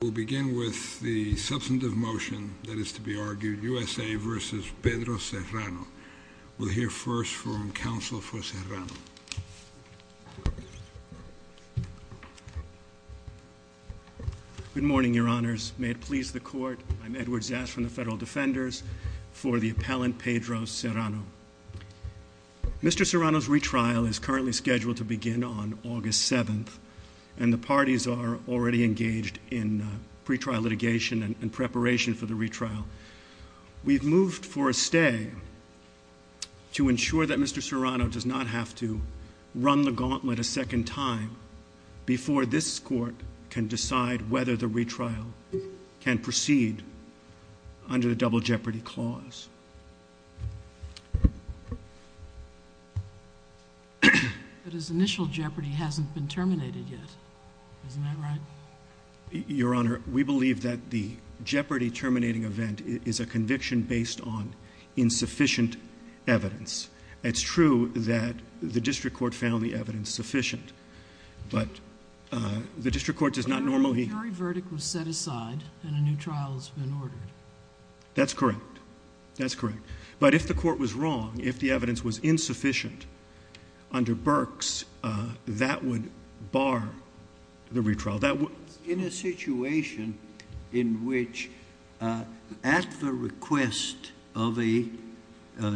We'll begin with the substantive motion, that is to be argued, U.S.A. v. Pedro Serrano. We'll hear first from counsel for Serrano. Good morning, your honors. May it please the court, I'm Edward Zass from the Federal Defenders, for the appellant Pedro Serrano. Mr. Serrano's retrial is currently scheduled to begin on August 7th. And the parties are already engaged in pretrial litigation and preparation for the retrial. We've moved for a stay to ensure that Mr. Serrano does not have to run the gauntlet a second time before this court can decide whether the retrial can proceed under the double jeopardy clause. But his initial jeopardy hasn't been terminated yet, isn't that right? Your honor, we believe that the jeopardy terminating event is a conviction based on insufficient evidence. It's true that the district court found the evidence sufficient, but the district court does not normally The jury verdict was set aside and a new trial has been ordered. That's correct. That's correct. But if the court was wrong, if the evidence was insufficient under Berks, that would bar the retrial. In a situation in which at the request of a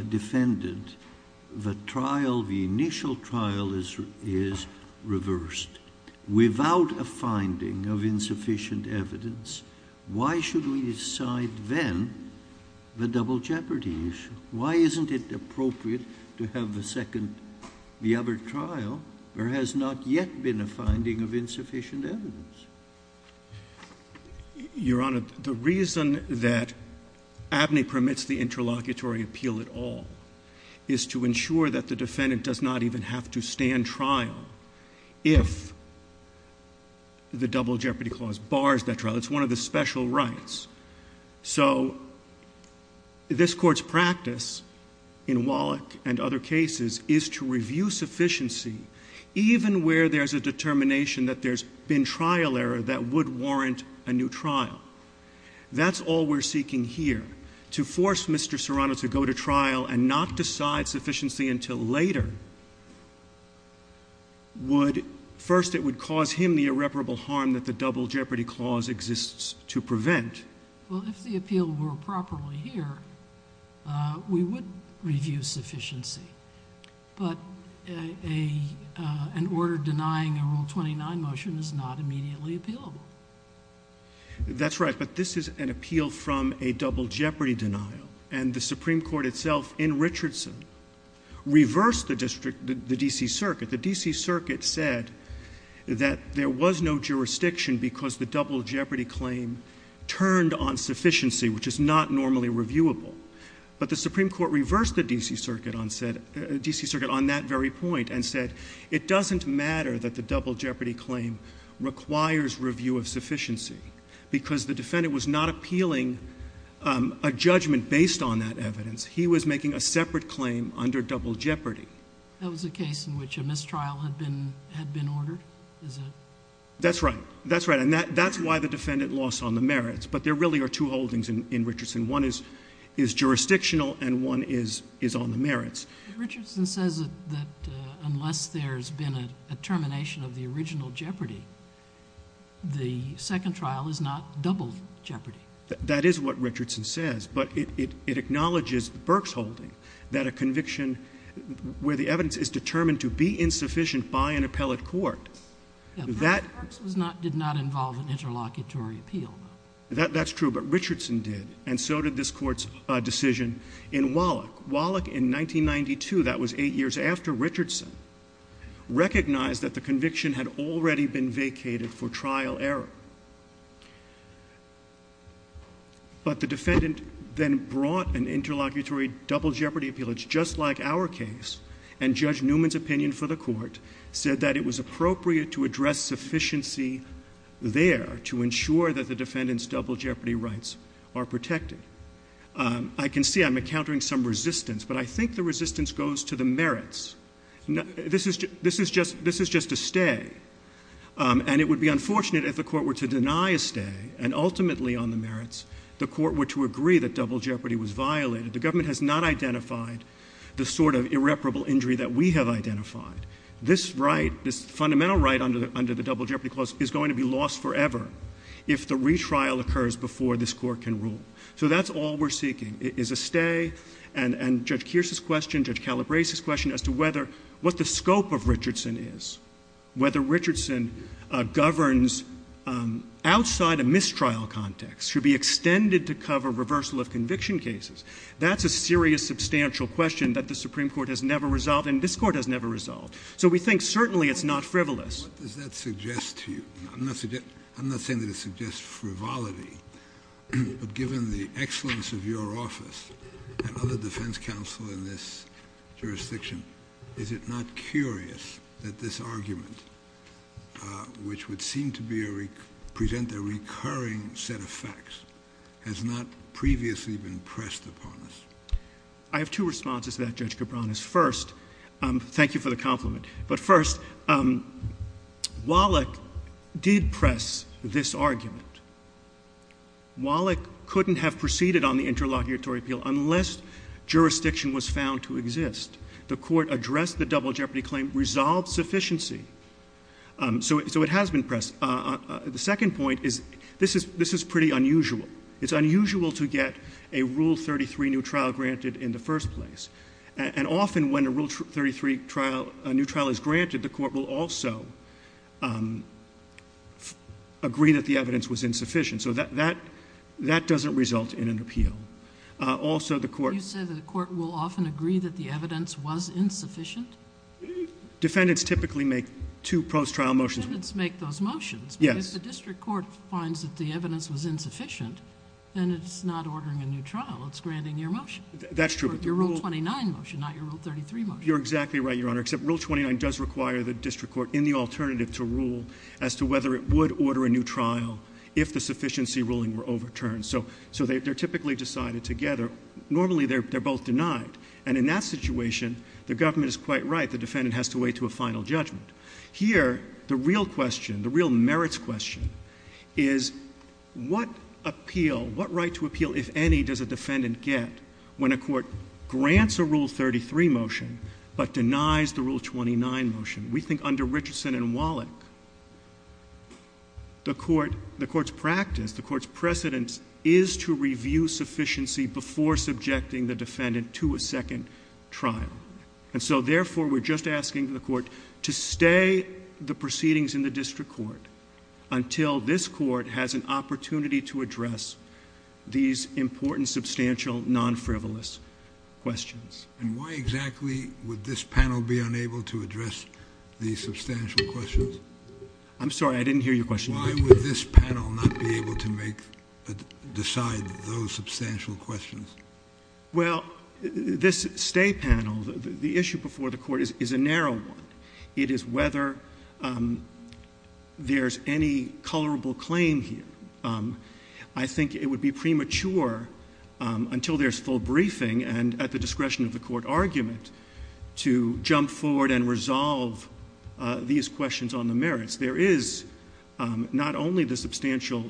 defendant, the trial, the initial trial is reversed, without a finding of insufficient evidence, why should we decide then the double jeopardy issue? Why isn't it appropriate to have the second, the other trial? There has not yet been a finding of insufficient evidence. Your honor, the reason that ABNY permits the interlocutory appeal at all is to ensure that the defendant does not even have to stand trial if the double jeopardy clause bars that trial. It's one of the special rights. So this court's practice in Wallach and other cases is to review sufficiency even where there's a determination that there's been trial error that would warrant a new trial. That's all we're seeking here. To force Mr. Serrano to go to trial and not decide sufficiency until later would, first, it would cause him the irreparable harm that the double jeopardy clause exists to prevent. Well, if the appeal were properly here, we would review sufficiency. But an order denying a Rule 29 motion is not immediately appealable. That's right. But this is an appeal from a double jeopardy denial. And the Supreme Court itself in Richardson reversed the district, the D.C. Circuit. The D.C. Circuit said that there was no jurisdiction because the double jeopardy claim turned on sufficiency, which is not normally reviewable. But the Supreme Court reversed the D.C. Circuit on that very point and said, it doesn't matter that the double jeopardy claim requires review of sufficiency because the defendant was not appealing a judgment based on that evidence. He was making a separate claim under double jeopardy. That was a case in which a mistrial had been ordered? That's right. That's right. And that's why the defendant lost on the merits. But there really are two holdings in Richardson. One is jurisdictional and one is on the merits. Richardson says that unless there's been a termination of the original jeopardy, the second trial is not double jeopardy. That is what Richardson says. But it acknowledges Berks holding that a conviction where the evidence is determined to be insufficient by an appellate court. Berks did not involve an interlocutory appeal. That's true. And so did this Court's decision in Wallach. Wallach in 1992, that was eight years after Richardson, recognized that the conviction had already been vacated for trial error. But the defendant then brought an interlocutory double jeopardy appeal. It's just like our case. And Judge Newman's opinion for the Court said that it was appropriate to address sufficiency there to ensure that the defendant's double jeopardy rights are protected. I can see I'm encountering some resistance, but I think the resistance goes to the merits. This is just a stay. And it would be unfortunate if the Court were to deny a stay, and ultimately on the merits the Court were to agree that double jeopardy was violated. The government has not identified the sort of irreparable injury that we have identified. This right, this fundamental right under the double jeopardy clause, is going to be lost forever if the retrial occurs before this Court can rule. So that's all we're seeking, is a stay. And Judge Kearse's question, Judge Calabrese's question as to whether, what the scope of Richardson is, whether Richardson governs outside a mistrial context, should be extended to cover reversal of conviction cases, that's a serious substantial question that the Supreme Court has never resolved, and this Court has never resolved. So we think certainly it's not frivolous. What does that suggest to you? I'm not saying that it suggests frivolity, but given the excellence of your office and other defense counsel in this jurisdiction, is it not curious that this argument, which would seem to present a recurring set of facts, has not previously been pressed upon us? I have two responses to that, Judge Cabranes. First, thank you for the compliment. But first, Wallach did press this argument. Wallach couldn't have proceeded on the interlocutory appeal unless jurisdiction was found to exist. The Court addressed the double jeopardy claim, resolved sufficiency. So it has been pressed. The second point is, this is pretty unusual. It's unusual to get a Rule 33 new trial granted in the first place. And often when a Rule 33 trial, a new trial is granted, the Court will also agree that the evidence was insufficient. So that doesn't result in an appeal. Also, the Court — You said that the Court will often agree that the evidence was insufficient? Defendants typically make two post-trial motions. Defendants make those motions. Yes. But if the district court finds that the evidence was insufficient, then it's not ordering a new trial, it's granting your motion. That's true. Your Rule 29 motion, not your Rule 33 motion. You're exactly right, Your Honor, except Rule 29 does require the district court in the alternative to rule as to whether it would order a new trial if the sufficiency ruling were overturned. So they're typically decided together. Normally, they're both denied. And in that situation, the government is quite right. The defendant has to wait to a final judgment. Here, the real question, the real merits question, is what appeal, if any, does a defendant get when a court grants a Rule 33 motion but denies the Rule 29 motion? We think under Richardson and Wallach, the court's practice, the court's precedence is to review sufficiency before subjecting the defendant to a second trial. And so, therefore, we're just asking the court to stay the proceedings in the district court until this court has an opportunity to address these important, substantial, non-frivolous questions. And why exactly would this panel be unable to address these substantial questions? I'm sorry. I didn't hear your question. Why would this panel not be able to decide those substantial questions? Well, this stay panel, the issue before the court is a narrow one. It is whether there's any colorable claim here. I think it would be premature, until there's full briefing and at the discretion of the court argument, to jump forward and resolve these questions on the merits. There is not only the substantial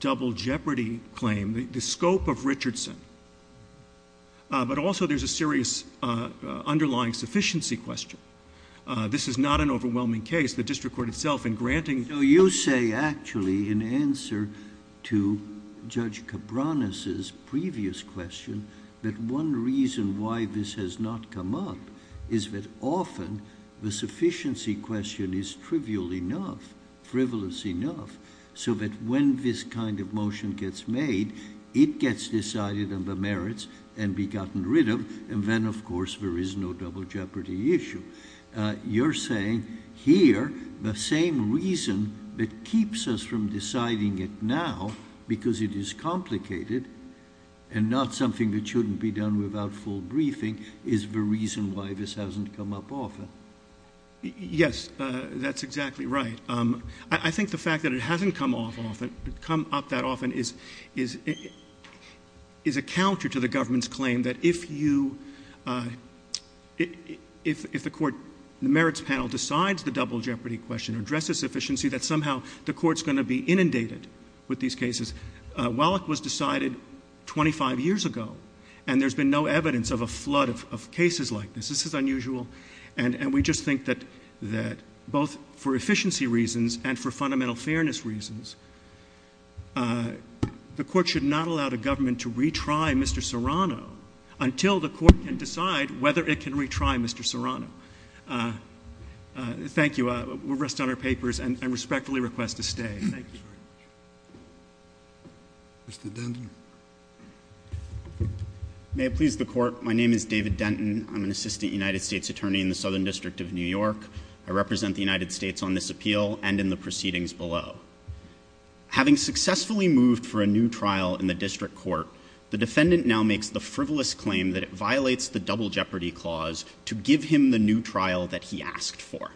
double jeopardy claim, the scope of Richardson, but also there's a serious underlying sufficiency question. This is not an overwhelming case. The district court itself in granting... So you say, actually, in answer to Judge Cabranes' previous question, that one reason why this has not come up is that often the sufficiency question is trivial enough, frivolous enough, so that when this kind of motion gets made, it gets decided on the merits and be gotten rid of, and then, of course, there is no double jeopardy issue. You're saying here the same reason that keeps us from deciding it now, because it is complicated and not something that shouldn't be done without full briefing, is the reason why this hasn't come up often. Yes, that's exactly right. I think the fact that it hasn't come up that often is a counter to the government's claim that if the merits panel decides the double jeopardy question or addresses sufficiency, that somehow the court's going to be inundated with these cases. Wallach was decided 25 years ago, and there's been no evidence of a flood of cases like this. This is unusual. And we just think that both for efficiency reasons and for fundamental fairness reasons, the court should not allow the government to retry Mr. Serrano until the court can decide whether it can retry Mr. Serrano. Thank you. We'll rest on our papers and respectfully request a stay. Thank you. Mr. Denton. May it please the Court, my name is David Denton. I'm an assistant United States attorney in the Southern District of New York. I represent the United States on this appeal and in the proceedings below. Having successfully moved for a new trial in the district court, the defendant now makes the frivolous claim that it violates the double jeopardy clause to give him the new trial that he asked for.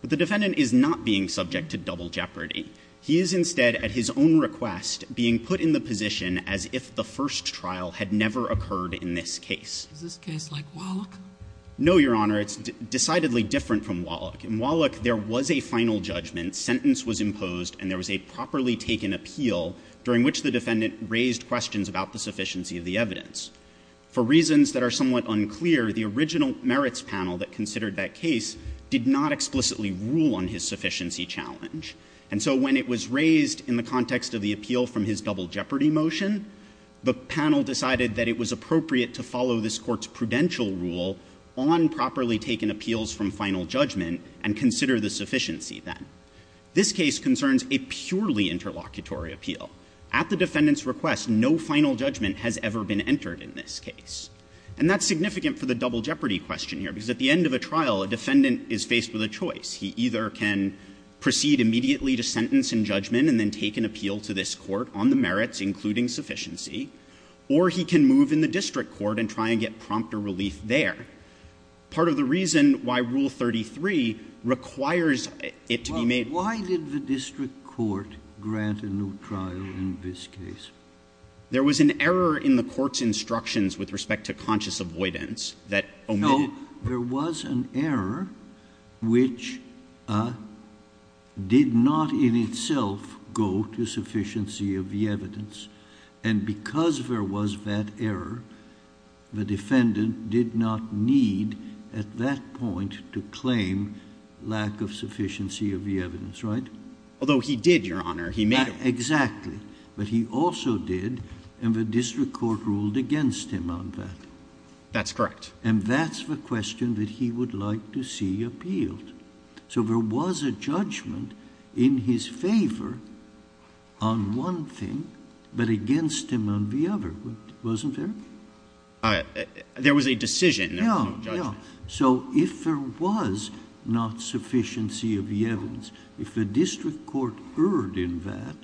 But the defendant is not being subject to double jeopardy. He is instead at his own request being put in the position as if the first trial had never occurred in this case. Is this case like Wallach? No, Your Honor, it's decidedly different from Wallach. In Wallach, there was a final judgment. Sentence was imposed and there was a properly taken appeal during which the defendant raised questions about the sufficiency of the evidence. For reasons that are somewhat unclear, the original merits panel that considered that case did not explicitly rule on his sufficiency challenge. And so when it was raised in the context of the appeal from his double jeopardy motion, the panel decided that it was appropriate to follow this court's prudential rule on properly taken appeals from final judgment and consider the sufficiency then. This case concerns a purely interlocutory appeal. At the defendant's request, no final judgment has ever been entered in this case. And that's significant for the double jeopardy question here, because at the end of a trial, a defendant is faced with a choice. He either can proceed immediately to sentence and judgment and then take an appeal to this court on the merits, including sufficiency, or he can move in the district court and try and get prompt or relief there. Part of the reason why Rule 33 requires it to be made. Why did the district court grant a new trial in this case? There was an error in the court's instructions with respect to conscious avoidance that omitted. No. There was an error which did not in itself go to sufficiency of the evidence. And because there was that error, the defendant did not need at that point to claim lack of sufficiency of the evidence, right? Although he did, Your Honor. He made it. Exactly. But he also did, and the district court ruled against him on that. That's correct. And that's the question that he would like to see appealed. So there was a judgment in his favor on one thing, but against him on the other. Wasn't there? There was a decision. No, no. So if there was not sufficiency of the evidence, if the district court erred in that,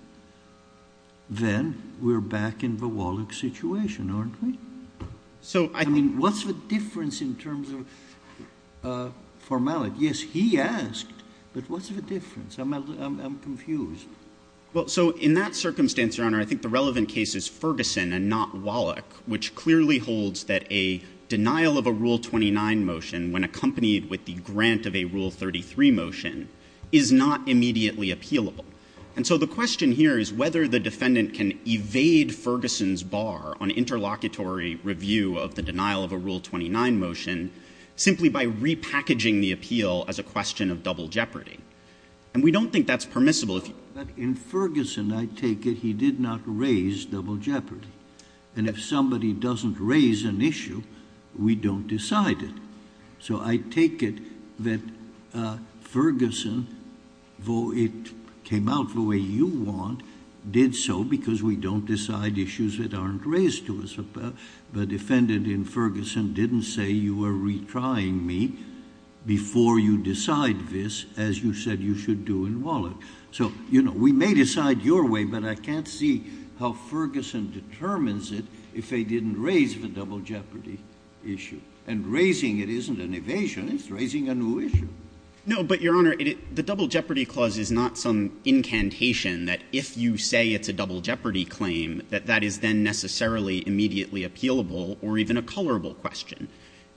then we're back in the Wallach situation, aren't we? So I think— I mean, what's the difference in terms of formality? Yes, he asked, but what's the difference? I'm confused. Well, so in that circumstance, Your Honor, I think the relevant case is Ferguson and not Wallach, which clearly holds that a denial of a Rule 29 motion when accompanied with the grant of a Rule 33 motion is not immediately appealable. And so the question here is whether the defendant can evade Ferguson's bar on interlocutory review of the denial of a Rule 29 motion simply by repackaging the appeal as a question of double jeopardy. And we don't think that's permissible. But in Ferguson, I take it he did not raise double jeopardy. And if somebody doesn't raise an issue, we don't decide it. So I take it that Ferguson, though it came out the way you want, did so because we don't decide issues that aren't raised to us. The defendant in Ferguson didn't say you were retrying me before you decide this, as you said you should do in Wallach. So, you know, we may decide your way, but I can't see how Ferguson determines it if they didn't raise the double jeopardy issue. And raising it isn't an evasion. It's raising a new issue. No, but, Your Honor, the double jeopardy clause is not some incantation that if you say it's a double jeopardy claim, that that is then necessarily immediately appealable or even a colorable question.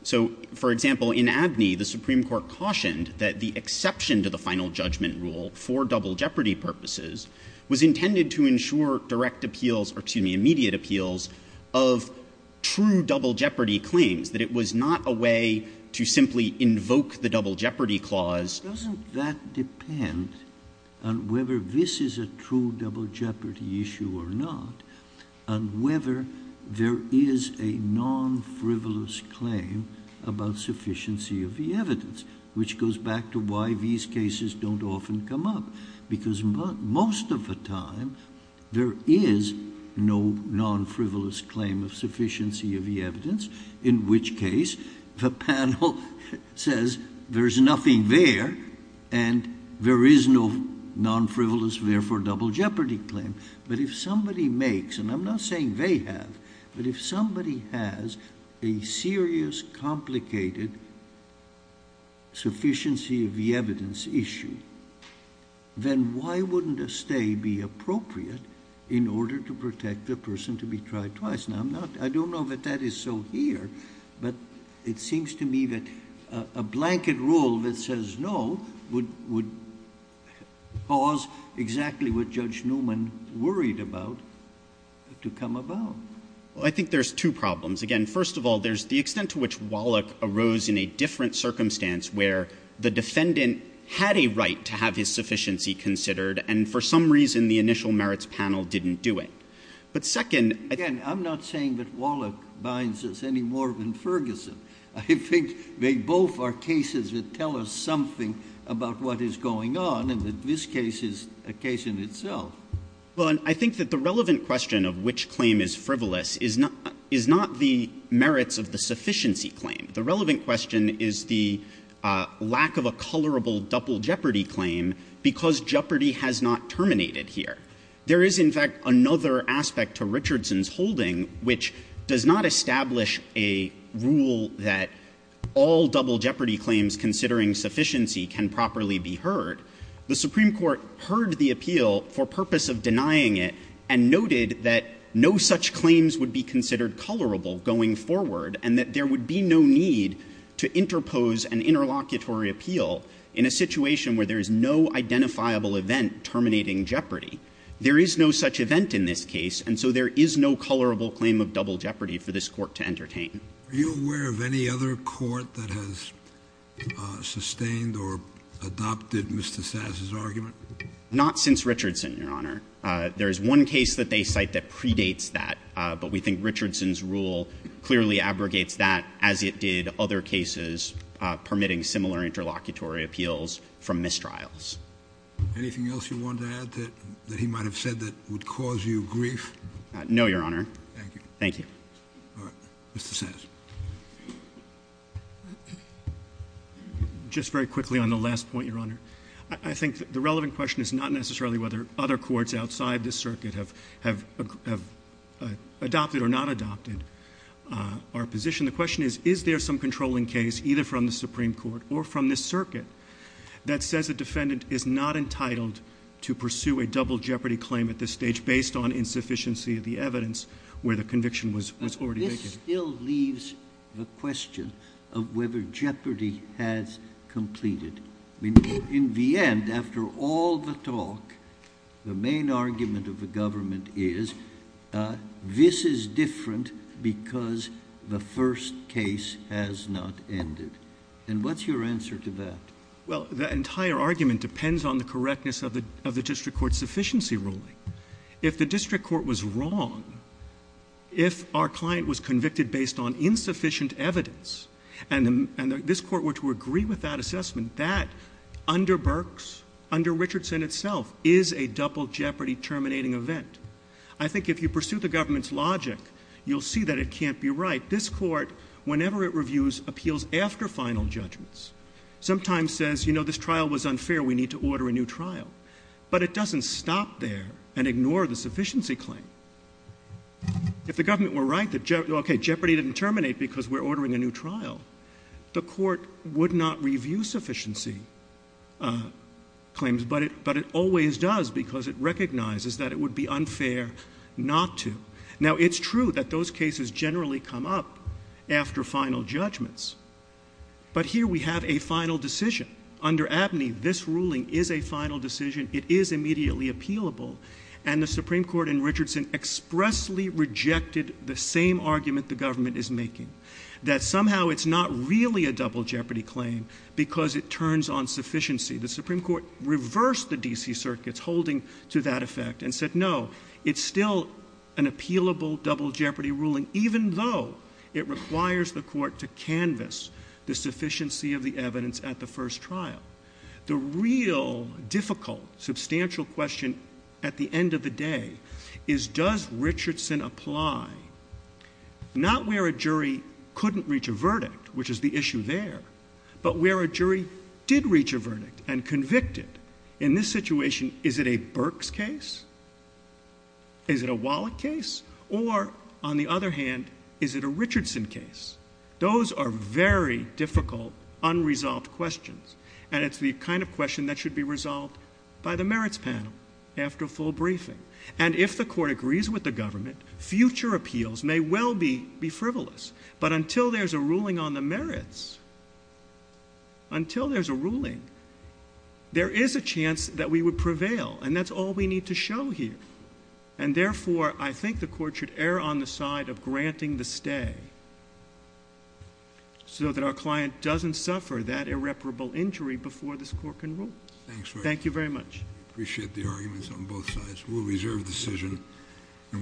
So, for example, in Abney, the Supreme Court cautioned that the exception to the final judgment rule for double jeopardy purposes was intended to ensure direct appeals or, excuse me, immediate appeals of true double jeopardy claims, that it was not a way to simply invoke the double jeopardy clause. Doesn't that depend on whether this is a true double jeopardy issue or not, on whether there is a non-frivolous claim about sufficiency of the evidence, which goes back to why these cases don't often come up, because most of the time there is no non-frivolous claim of sufficiency of the evidence, in which case the panel says there's nothing there, and there is no non-frivolous, therefore double jeopardy claim. But if somebody makes, and I'm not saying they have, but if somebody has a serious, complicated sufficiency of the evidence issue, then why wouldn't a stay be appropriate in order to protect the person to be tried twice? Now, I don't know that that is so here, but it seems to me that a blanket rule that says no would pause exactly what Judge Newman worried about to come about. Well, I think there's two problems. Again, first of all, there's the extent to which Wallach arose in a different circumstance where the defendant had a right to have his sufficiency considered and for some reason the initial merits panel didn't do it. But second, I think that the relevant question of which claim is frivolous is not the merits of the sufficiency claim. The relevant question is the lack of a colorable double jeopardy claim because jeopardy has not terminated here. There is, in fact, another aspect to Richardson's holding which does not establish a rule that all double jeopardy claims considering sufficiency can properly be heard. The Supreme Court heard the appeal for purpose of denying it and noted that no such claims would be considered colorable going forward and that there would be no need to interpose an interlocutory appeal in a situation where there is no identifiable event terminating jeopardy. There is no such event in this case and so there is no colorable claim of double jeopardy for this Court to entertain. Are you aware of any other court that has sustained or adopted Mr. Sass's argument? Not since Richardson, Your Honor. There is one case that they cite that predates that, but we think Richardson's rule clearly abrogates that as it did other cases permitting similar interlocutory appeals from mistrials. Anything else you want to add that he might have said that would cause you grief? No, Your Honor. Thank you. Thank you. All right. Mr. Sass. Just very quickly on the last point, Your Honor. I think the relevant question is not necessarily whether other courts outside this circuit have adopted or not adopted our position. The question is, is there some controlling case either from the Supreme Court or from this circuit that says the defendant is not entitled to pursue a double jeopardy claim at this stage based on insufficiency of the evidence where the conviction was already made? This still leaves the question of whether jeopardy has completed. In the end, after all the talk, the main argument of the government is this is different because the first case has not ended. And what's your answer to that? Well, the entire argument depends on the correctness of the district court's sufficiency ruling. If the district court was wrong, if our client was convicted based on insufficient evidence and this court were to agree with that assessment, that under Burks, under Richardson itself, is a double jeopardy terminating event. I think if you pursue the government's logic, you'll see that it can't be right. This court, whenever it reviews appeals after final judgments, sometimes says, you know, this trial was unfair. We need to order a new trial. But it doesn't stop there and ignore the sufficiency claim. If the government were right that, okay, jeopardy didn't terminate because we're ordering a new trial, the court would not review sufficiency claims, but it always does because it recognizes that it would be unfair not to. Now, it's true that those cases generally come up after final judgments. But here we have a final decision. Under Abney, this ruling is a final decision. It is immediately appealable. And the Supreme Court in Richardson expressly rejected the same argument the government is making, that somehow it's not really a double jeopardy claim because it turns on sufficiency. The Supreme Court reversed the D.C. circuits holding to that effect and said, no, it's still an appealable double jeopardy ruling even though it requires the court to canvass the sufficiency of the evidence at the first trial. The real difficult substantial question at the end of the day is, does Richardson apply not where a jury couldn't reach a verdict, which is the issue there, but where a jury did reach a verdict and convicted? In this situation, is it a Burke's case? Is it a Wallach case? Or, on the other hand, is it a Richardson case? Those are very difficult unresolved questions, and it's the kind of question that should be resolved by the merits panel after a full briefing. And if the court agrees with the government, future appeals may well be frivolous. But until there's a ruling on the merits, until there's a ruling, there is a chance that we would prevail, and that's all we need to show here. And, therefore, I think the court should err on the side of granting the stay so that our client doesn't suffer that irreparable injury before this court can rule. Thank you very much. I appreciate the arguments on both sides. We'll reserve the decision, and we'll come back.